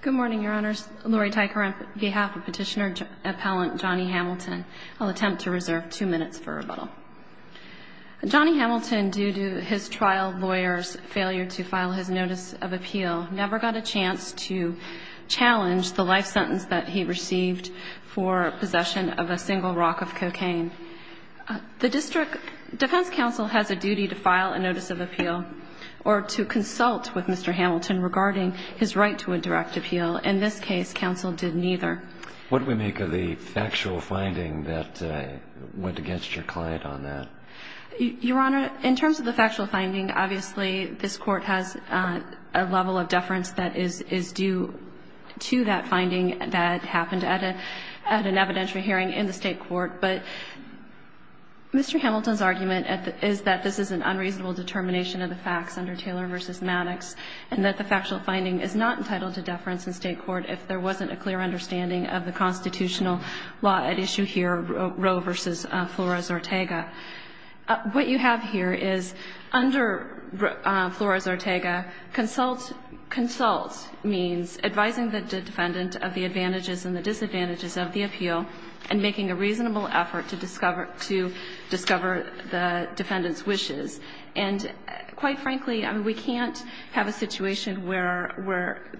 Good morning, your honors. Lori Tyker on behalf of Petitioner Appellant Johnny Hamilton. I'll attempt to reserve two minutes for rebuttal. Johnny Hamilton, due to his trial lawyer's failure to file his notice of appeal, never got a chance to challenge the life sentence that he received for possession of a single rock of cocaine. The District Defense Counsel has a duty to file a notice of appeal or to consult with Mr. Hamilton regarding his right to a direct appeal. In this case, counsel did neither. What do we make of the factual finding that went against your client on that? Your honor, in terms of the factual finding, obviously this court has a level of deference that is due to that finding that happened at an evidentiary hearing in the state court. But Mr. Hamilton's argument is that this is an unreasonable determination of the facts under Taylor v. Maddox and that the factual finding is not entitled to deference in state court if there wasn't a clear understanding of the constitutional law at issue here, Roe v. Flores-Ortega. What you have here is under Flores-Ortega, consult means advising the defendant of the advantages and the disadvantages of the appeal and making a reasonable effort to discover the defendant's wishes. And quite frankly, we can't have a situation where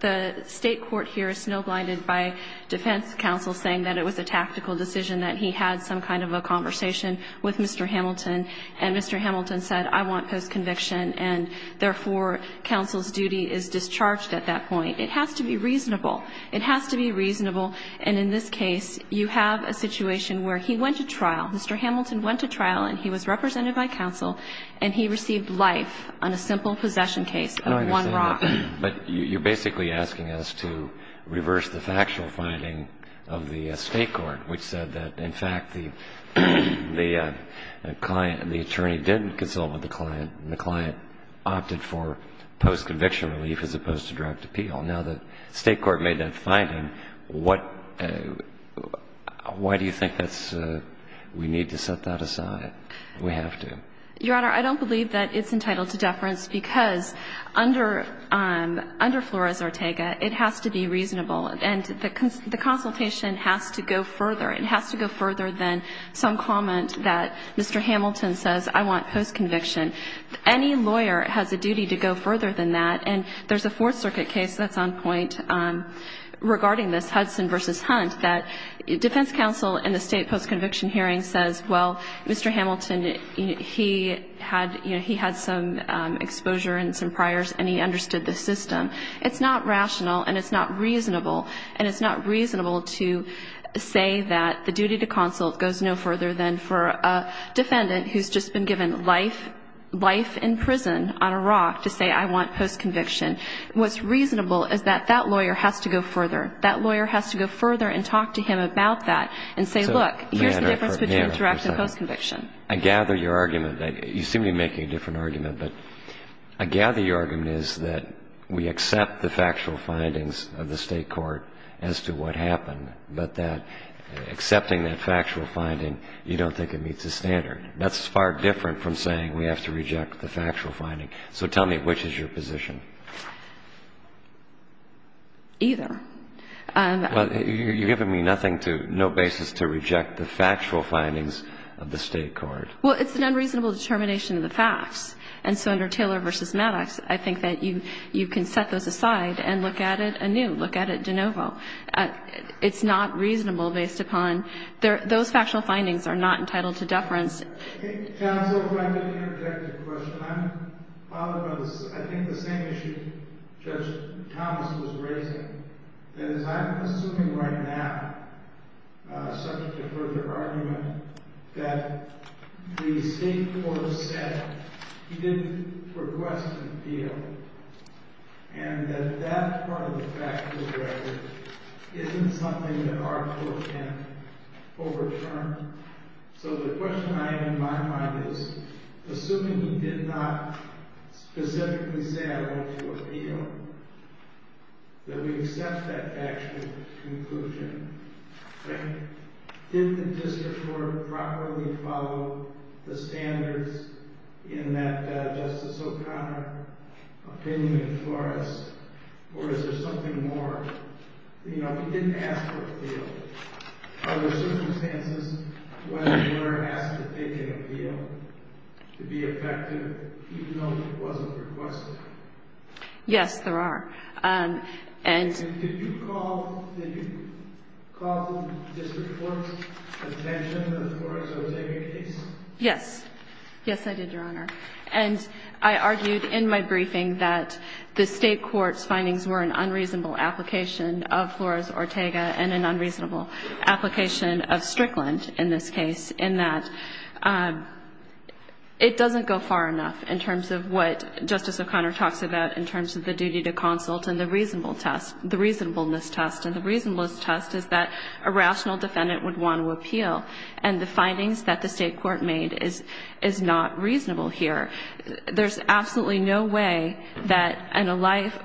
the state court here is snow blinded by defense counsel saying that it was a tactical decision, that he had some kind of a conversation with Mr. Hamilton, and Mr. Hamilton said, I want post-conviction, and therefore counsel's duty is discharged at that point. It has to be reasonable. It has to be reasonable. And in this case, you have a situation where he went to trial. Mr. Hamilton went to trial, and he was represented by counsel, and he received life on a simple possession case of one rock. But you're basically asking us to reverse the factual finding of the state court, which said that, in fact, the client, the attorney did consult with the client, and the client opted for post-conviction relief as opposed to direct appeal. Now, the state court made that finding. Why do you think that's we need to set that aside? We have to. Your Honor, I don't believe that it's entitled to deference because under Flores-Ortega, it has to be reasonable. And the consultation has to go further. It has to go further than some comment that Mr. Hamilton says, I want post-conviction. Any lawyer has a duty to go further than that. And there's a Fourth Circuit case that's on point regarding this, Hudson v. Hunt, that defense counsel in the state post-conviction hearing says, well, Mr. Hamilton, he had some exposure and some priors, and he understood the system. It's not rational, and it's not reasonable. And it's not reasonable to say that the duty to consult goes no further than for a defendant who's just been given life in prison on a rock to say, I want post-conviction. What's reasonable is that that lawyer has to go further. That lawyer has to go further and talk to him about that and say, look, here's the difference between direct and post-conviction. I gather your argument. You seem to be making a different argument. But I gather your argument is that we accept the factual findings of the state court as to what happened, but that accepting that factual finding, you don't think it meets the standard. That's far different from saying we have to reject the factual finding. So tell me, which is your position? Either. Well, you're giving me nothing to, no basis to reject the factual findings of the state court. Well, it's an unreasonable determination of the facts. And so under Taylor v. Maddox, I think that you can set those aside and look at it anew, look at it de novo. It's not reasonable based upon those factual findings are not entitled to deference I think, counsel, if I could interject a question. I'm bothered by this. I think the same issue Judge Thomas was raising, that is, I'm assuming right now, subject to further argument, that the state court said he didn't request an appeal and that that part of the factual record isn't something that our court can overturn. So the question I have in my mind is, assuming he did not specifically say I want to appeal, that we accept that factual conclusion. Did the district court properly follow the standards in that Justice O'Connor opinion for us? Or is there something more? Are there circumstances where the court asked that they take appeal to be effective even though it wasn't requested? Yes, there are. And did you call the district court's attention to the Flores-Ortega case? Yes. Yes, I did, Your Honor. And I argued in my briefing that the state court's findings were an unreasonable application of Flores-Ortega and an unreasonable application of Strickland in this case in that it doesn't go far enough in terms of what Justice O'Connor talks about in terms of the duty to consult and the reasonable test, the reasonableness test. And the reasonableness test is that a rational defendant would want to appeal. And the findings that the state court made is not reasonable here. There's absolutely no way that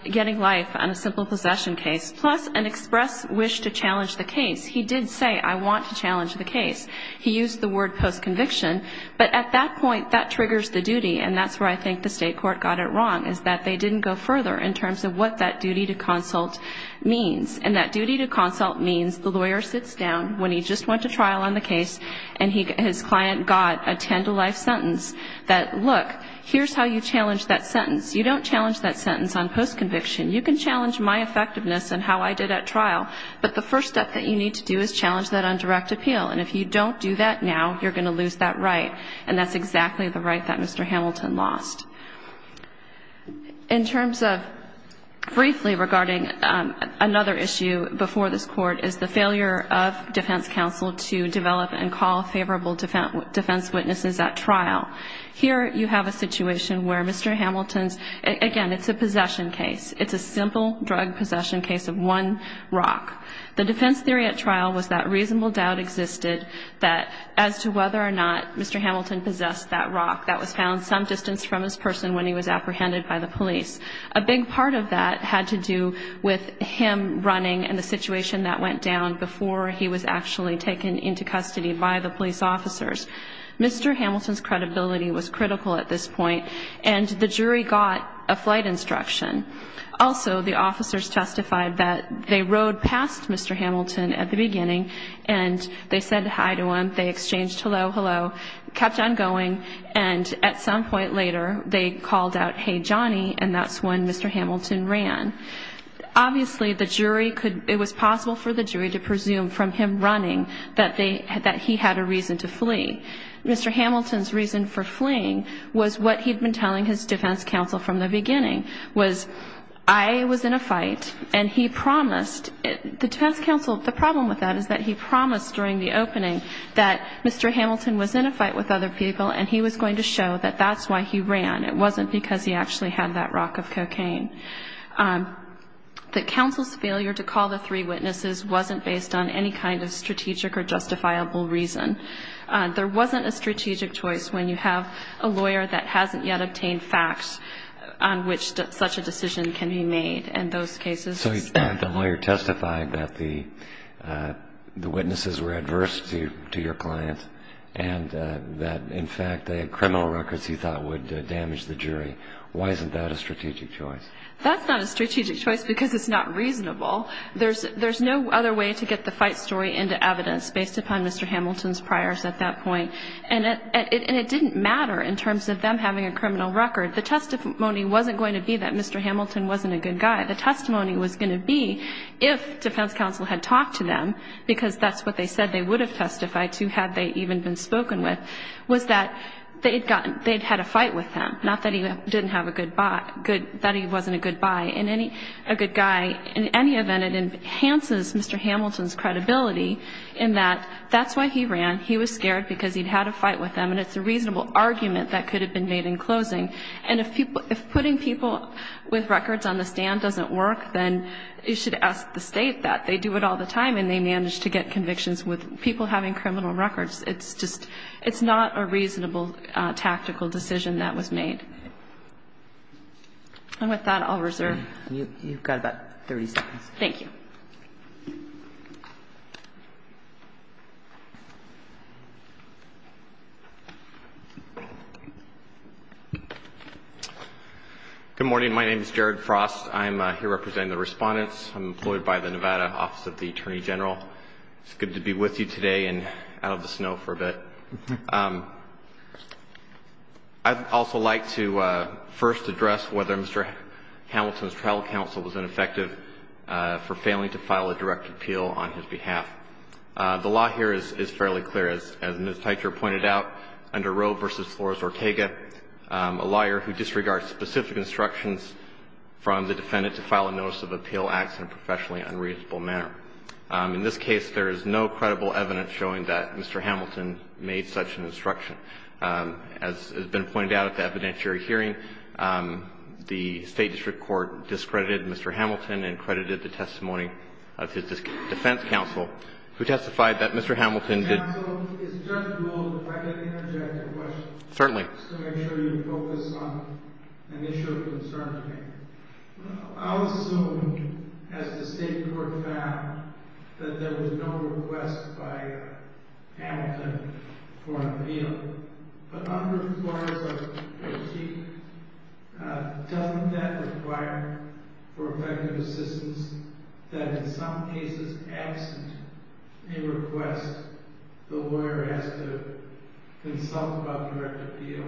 getting life on a simple possession case, plus an express wish to challenge the case. He did say, I want to challenge the case. He used the word postconviction. But at that point, that triggers the duty, and that's where I think the state court got it wrong, is that they didn't go further in terms of what that duty to consult means. And that duty to consult means the lawyer sits down when he just went to trial on the case and his client got a ten-to-life sentence that, look, here's how you challenge that sentence. You don't challenge that sentence on postconviction. You can challenge my effectiveness and how I did at trial, but the first step that you need to do is challenge that on direct appeal. And if you don't do that now, you're going to lose that right, and that's exactly the right that Mr. Hamilton lost. In terms of briefly regarding another issue before this Court is the failure of defense counsel to develop and call favorable defense witnesses at trial. Here you have a situation where Mr. Hamilton's, again, it's a possession case. It's a simple drug possession case of one rock. The defense theory at trial was that reasonable doubt existed that as to whether or not Mr. Hamilton possessed that rock that was found some distance from his person when he was apprehended by the police. A big part of that had to do with him running and the situation that went down before he was actually taken into custody by the police officers. Mr. Hamilton's credibility was critical at this point, and the jury got a flight instruction. Also, the officers testified that they rode past Mr. Hamilton at the beginning, and they said hi to him, they exchanged hello, hello, kept on going, and at some point later they called out, hey, Johnny, and that's when Mr. Hamilton ran. Obviously, the jury could, it was possible for the jury to presume from him running that they, that he had a reason to flee. Mr. Hamilton's reason for fleeing was what he'd been telling his defense counsel from the beginning, was I was in a fight, and he promised, the defense counsel, the problem with that is that he promised during the opening that Mr. Hamilton was in a fight with other people, and he was going to show that that's why he ran. It wasn't because he actually had that rock of cocaine. The counsel's failure to call the three witnesses wasn't based on any kind of strategic or justifiable reason. There wasn't a strategic choice when you have a lawyer that hasn't yet obtained facts on which such a decision can be made, and those cases... So the lawyer testified that the witnesses were adverse to your client, and that, in fact, they had criminal records he thought would damage the jury. Why isn't that a strategic choice? That's not a strategic choice because it's not reasonable. There's no other way to get the fight story into evidence based upon Mr. Hamilton's priors at that point, and it didn't matter in terms of them having a criminal record. The testimony wasn't going to be that Mr. Hamilton wasn't a good guy. The testimony was going to be if defense counsel had talked to them, because that's what they said they would have testified to had they even been spoken with, was that they'd had a fight with him, not that he didn't have a good bye, that he wasn't a good guy. In any event, it enhances Mr. Hamilton's credibility in that that's why he ran. He was scared because he'd had a fight with them, and it's a reasonable argument that could have been made in closing. And if putting people with records on the stand doesn't work, then you should ask the State that. They do it all the time, and they manage to get convictions with people having criminal records. It's not a reasonable tactical decision that was made. And with that, I'll reserve. You've got about 30 seconds. Thank you. Good morning. My name is Jared Frost. I'm here representing the respondents. I'm employed by the Nevada Office of the Attorney General. It's good to be with you today and out of the snow for a bit. I'd also like to first address whether Mr. Hamilton's trial counsel was ineffective for failing to file a direct appeal on his behalf. The law here is fairly clear. As Ms. Teicher pointed out, under Roe v. Flores-Ortega, a lawyer who disregards specific instructions from the defendant to file a notice of appeal acts in a professionally unreasonable manner. In this case, there is no credible evidence showing that Mr. Hamilton made such an instruction. As has been pointed out at the evidentiary hearing, the State district court discredited Mr. Hamilton and credited the testimony of his defense counsel, who testified that Mr. Hamilton did not file a notice of appeal. Counsel, if I could interject a question. Certainly. Just to make sure you focus on an issue of concern to me. I'll assume, as the state court found, that there was no request by Hamilton for an appeal. But under Roe v. Flores-Ortega, doesn't that require for effective assistance that in some cases, absent a request, the lawyer has to consult about direct appeal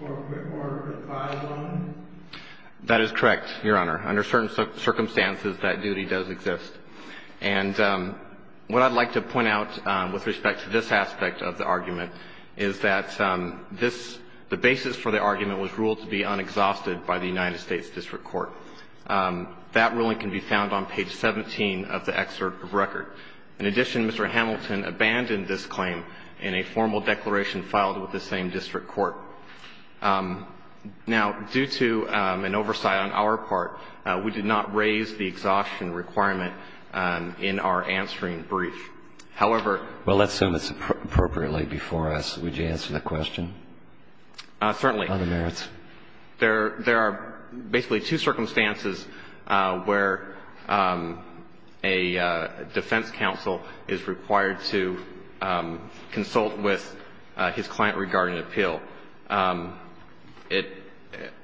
or advise on it? That is correct, Your Honor. Under certain circumstances, that duty does exist. And what I'd like to point out with respect to this aspect of the argument is that this the basis for the argument was ruled to be unexhausted by the United States district court. That ruling can be found on page 17 of the excerpt of record. In addition, Mr. Hamilton abandoned this claim in a formal declaration filed with the same district court. Now, due to an oversight on our part, we did not raise the exhaustion requirement in our answering brief. However. Well, let's sum this appropriately before us. Would you answer that question? Certainly. On the merits. There are basically two circumstances where a defense counsel is required to consult with his client regarding appeal.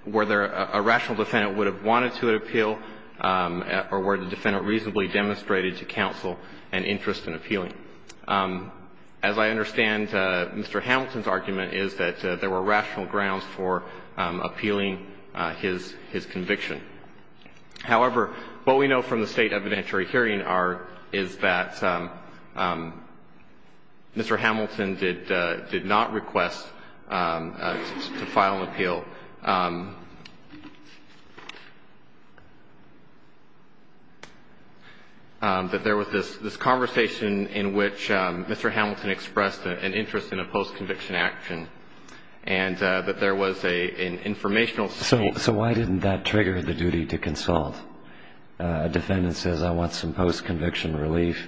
Were there a rational defendant would have wanted to appeal or were the defendant reasonably demonstrated to counsel an interest in appealing? As I understand, Mr. Hamilton's argument is that there were rational grounds for appealing his conviction. However, what we know from the State evidentiary hearing is that Mr. Hamilton did not request to file an appeal. That there was this conversation in which Mr. Hamilton expressed an interest in a post-conviction action and that there was an informational statement. So why didn't that trigger the duty to consult? A defendant says, I want some post-conviction relief.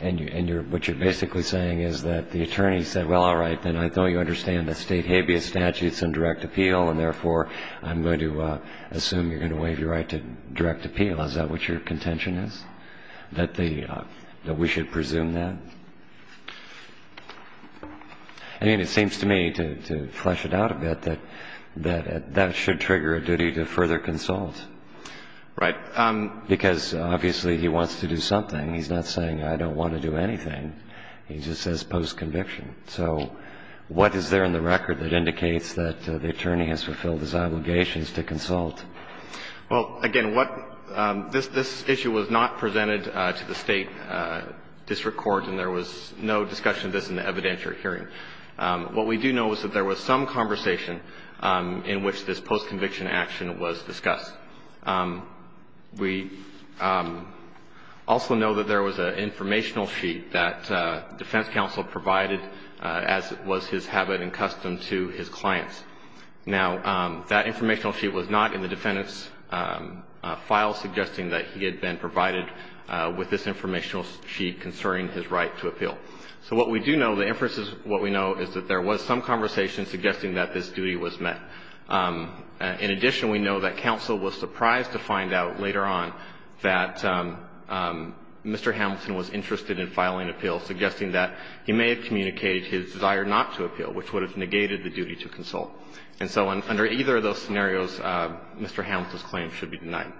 And what you're basically saying is that the attorney said, well, all right, then I know you understand that State habeas statute is in direct appeal and, therefore, I'm going to assume you're going to waive your right to direct appeal. Is that what your contention is, that we should presume that? I mean, it seems to me, to flesh it out a bit, that that should trigger a duty to further consult. Right. Because, obviously, he wants to do something. He's not saying, I don't want to do anything. He just says post-conviction. So what is there in the record that indicates that the attorney has fulfilled his obligations to consult? Well, again, what this issue was not presented to the State district court, and there was no discussion of this in the evidentiary hearing. What we do know is that there was some conversation in which this post-conviction action was discussed. We also know that there was an informational sheet that defense counsel provided as was his habit and custom to his clients. Now, that informational sheet was not in the defendant's file suggesting that he had been provided with this informational sheet concerning his right to appeal. So what we do know, the inferences of what we know is that there was some conversation suggesting that this duty was met. In addition, we know that counsel was surprised to find out later on that Mr. Hamilton was interested in filing appeals, suggesting that he may have communicated his desire not to appeal, which would have negated the duty to consult. And so under either of those scenarios, Mr. Hamilton's claim should be denied.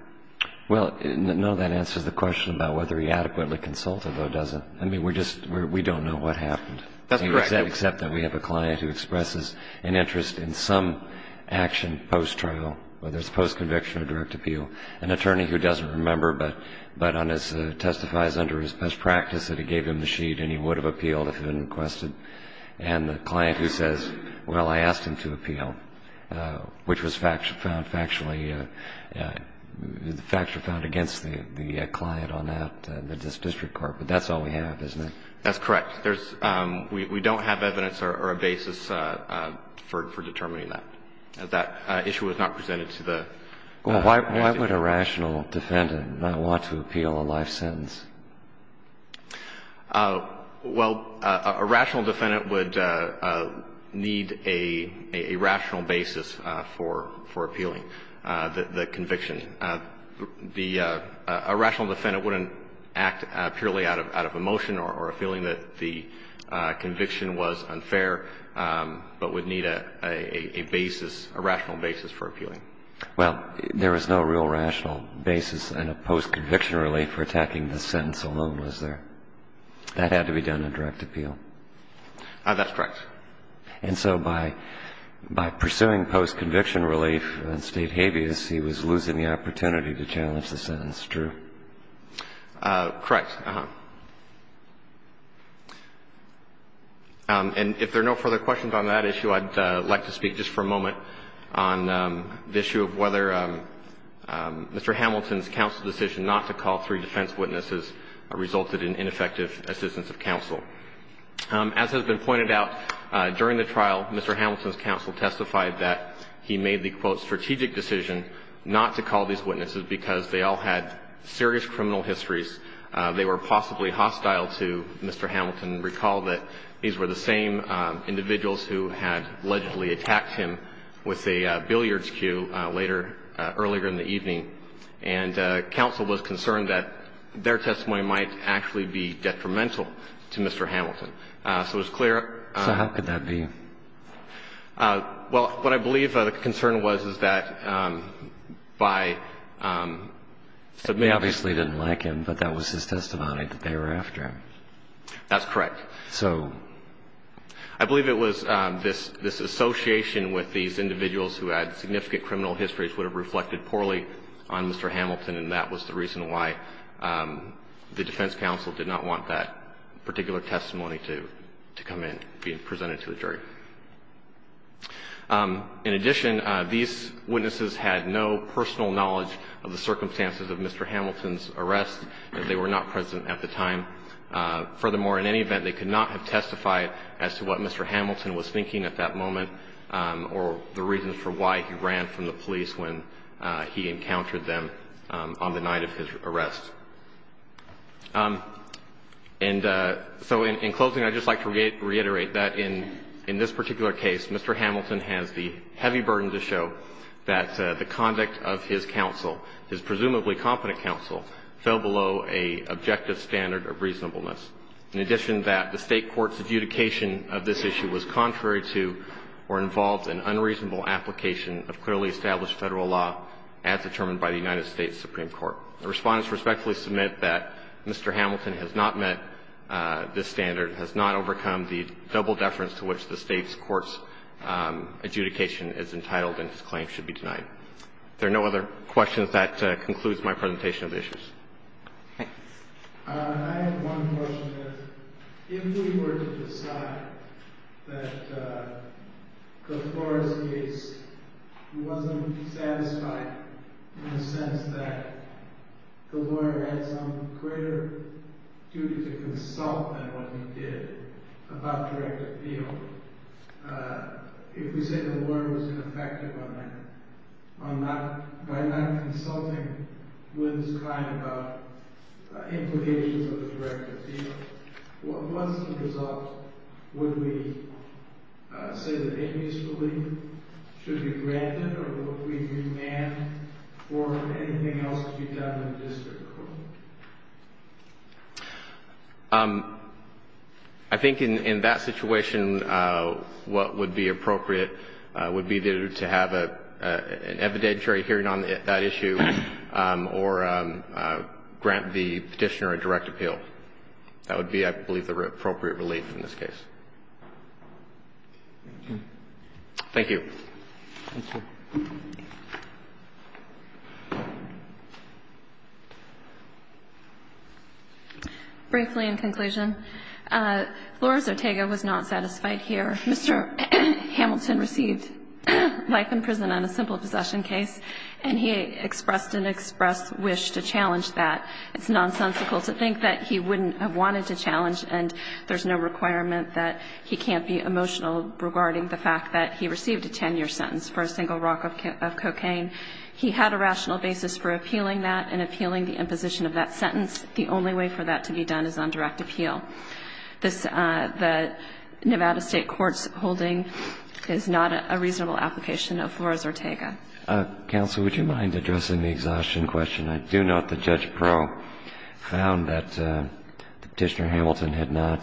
Well, no, that answers the question about whether he adequately consulted or doesn't. I mean, we're just we don't know what happened. That's correct. Except that we have a client who expresses an interest in some action post-trial, whether it's post-conviction or direct appeal. An attorney who doesn't remember but testifies under his best practice that he gave him the sheet and he would have appealed if it had been requested. And the client who says, well, I asked him to appeal, which was found factually against the client on that, this district court. But that's all we have, isn't it? That's correct. There's we don't have evidence or a basis for determining that. That issue was not presented to the agency. Well, why would a rational defendant not want to appeal a life sentence? Well, a rational defendant would need a rational basis for appealing the conviction. A rational defendant wouldn't act purely out of emotion or a feeling that the conviction was unfair, but would need a basis, a rational basis for appealing. Well, there is no real rational basis in a post-conviction relief for attacking the sentence alone, is there? That had to be done in direct appeal. That's correct. And so by pursuing post-conviction relief in State habeas, he was losing the opportunity to challenge the sentence, true? Correct. And if there are no further questions on that issue, I'd like to speak just for a moment on the issue of whether Mr. Hamilton's counsel's decision not to call three defense witnesses resulted in ineffective assistance of counsel. As has been pointed out, during the trial, Mr. Hamilton's counsel testified that he made the, quote, strategic decision not to call these witnesses because they all had serious criminal histories. They were possibly hostile to Mr. Hamilton. Recall that these were the same individuals who had allegedly attacked him with a billiards cue later, earlier in the evening, and counsel was concerned that their testimony might actually be detrimental to Mr. Hamilton. So it was clear. So how could that be? Well, what I believe the concern was, is that by submitting a case to counsel They obviously didn't like him, but that was his testimony, that they were after him. That's correct. So? I believe it was this association with these individuals who had significant criminal histories would have reflected poorly on Mr. Hamilton, and that was the reason why the defense counsel did not want that particular testimony to come in, be presented to the jury. In addition, these witnesses had no personal knowledge of the circumstances of Mr. Hamilton's arrest. They were not present at the time. Furthermore, in any event, they could not have testified as to what Mr. Hamilton was thinking at that moment or the reason for why he ran from the police when he encountered them on the night of his arrest. And so in closing, I'd just like to reiterate that in this particular case, Mr. Hamilton has the heavy burden to show that the conduct of his counsel, his presumably competent counsel, fell below an objective standard of reasonableness. In addition, that the State court's adjudication of this issue was contrary to or involved in unreasonable application of clearly established Federal law as determined by the United States Supreme Court. The Respondents respectfully submit that Mr. Hamilton has not met this standard, has not overcome the double deference to which the State's court's adjudication is entitled and his claim should be denied. If there are no other questions, that concludes my presentation of the issues. Okay. I have one question. If we were to decide that the Flores case wasn't satisfied in the sense that the lawyer had some greater duty to consult than what he did about direct appeal, if we say the enemies believe it should be granted or would we demand for anything else to be done in the district court? I think in that situation, what would be appropriate would be to have an evidentiary hearing on that issue or grant the plaintiff the right to appeal. I think that would be the appropriate relief in this case. Thank you. Thank you. Briefly, in conclusion, Flores-Otego was not satisfied here. Mr. Hamilton received life in prison on a simple possession case, and he expressed an express wish to challenge that. It's nonsensical to think that he wouldn't have wanted to challenge, and there's no requirement that he can't be emotional regarding the fact that he received a 10-year sentence for a single rock of cocaine. He had a rational basis for appealing that and appealing the imposition of that sentence. The only way for that to be done is on direct appeal. The Nevada State Court's holding is not a reasonable application of Flores-Otego. Counsel, would you mind addressing the exhaustion question? I do note that Judge Perot found that Petitioner Hamilton had not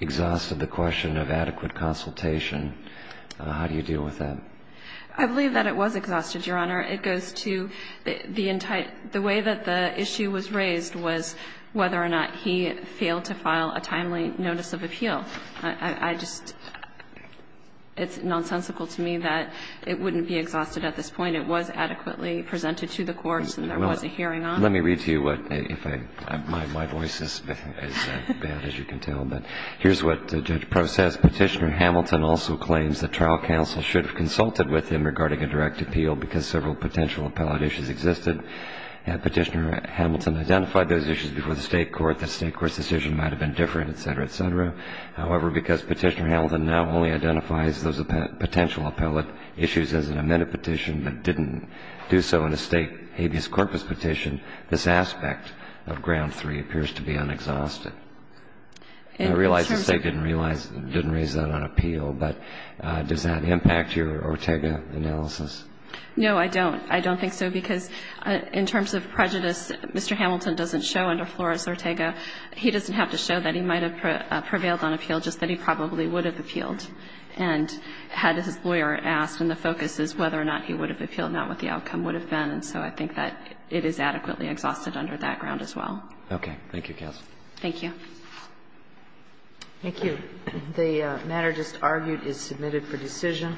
exhausted the question of adequate consultation. How do you deal with that? I believe that it was exhausted, Your Honor. It goes to the way that the issue was raised was whether or not he failed to file a timely notice of appeal. I just, it's nonsensical to me that it wouldn't be exhausted at this point. It was adequately presented to the courts and there was a hearing on it. Let me read to you what, if I, my voice is as bad as you can tell, but here's what Judge Perot says. Petitioner Hamilton also claims that trial counsel should have consulted with him regarding a direct appeal because several potential appellate issues existed. Petitioner Hamilton identified those issues before the State court, the State court's decision might have been different, et cetera, et cetera. However, because Petitioner Hamilton now only identifies those potential appellate issues as an amended petition but didn't do so in a State habeas corpus petition, this aspect of ground three appears to be unexhausted. And I realize the State didn't realize, didn't raise that on appeal, but does that impact your Ortega analysis? No, I don't. I don't think so, because in terms of prejudice, Mr. Hamilton doesn't show under Flores-Otego. He doesn't have to show that he might have prevailed on appeal, just that he probably would have appealed. And had his lawyer asked, and the focus is whether or not he would have appealed, not what the outcome would have been. And so I think that it is adequately exhausted under that ground as well. Okay. Thank you, Katz. Thank you. Thank you. The matter just argued is submitted for decision.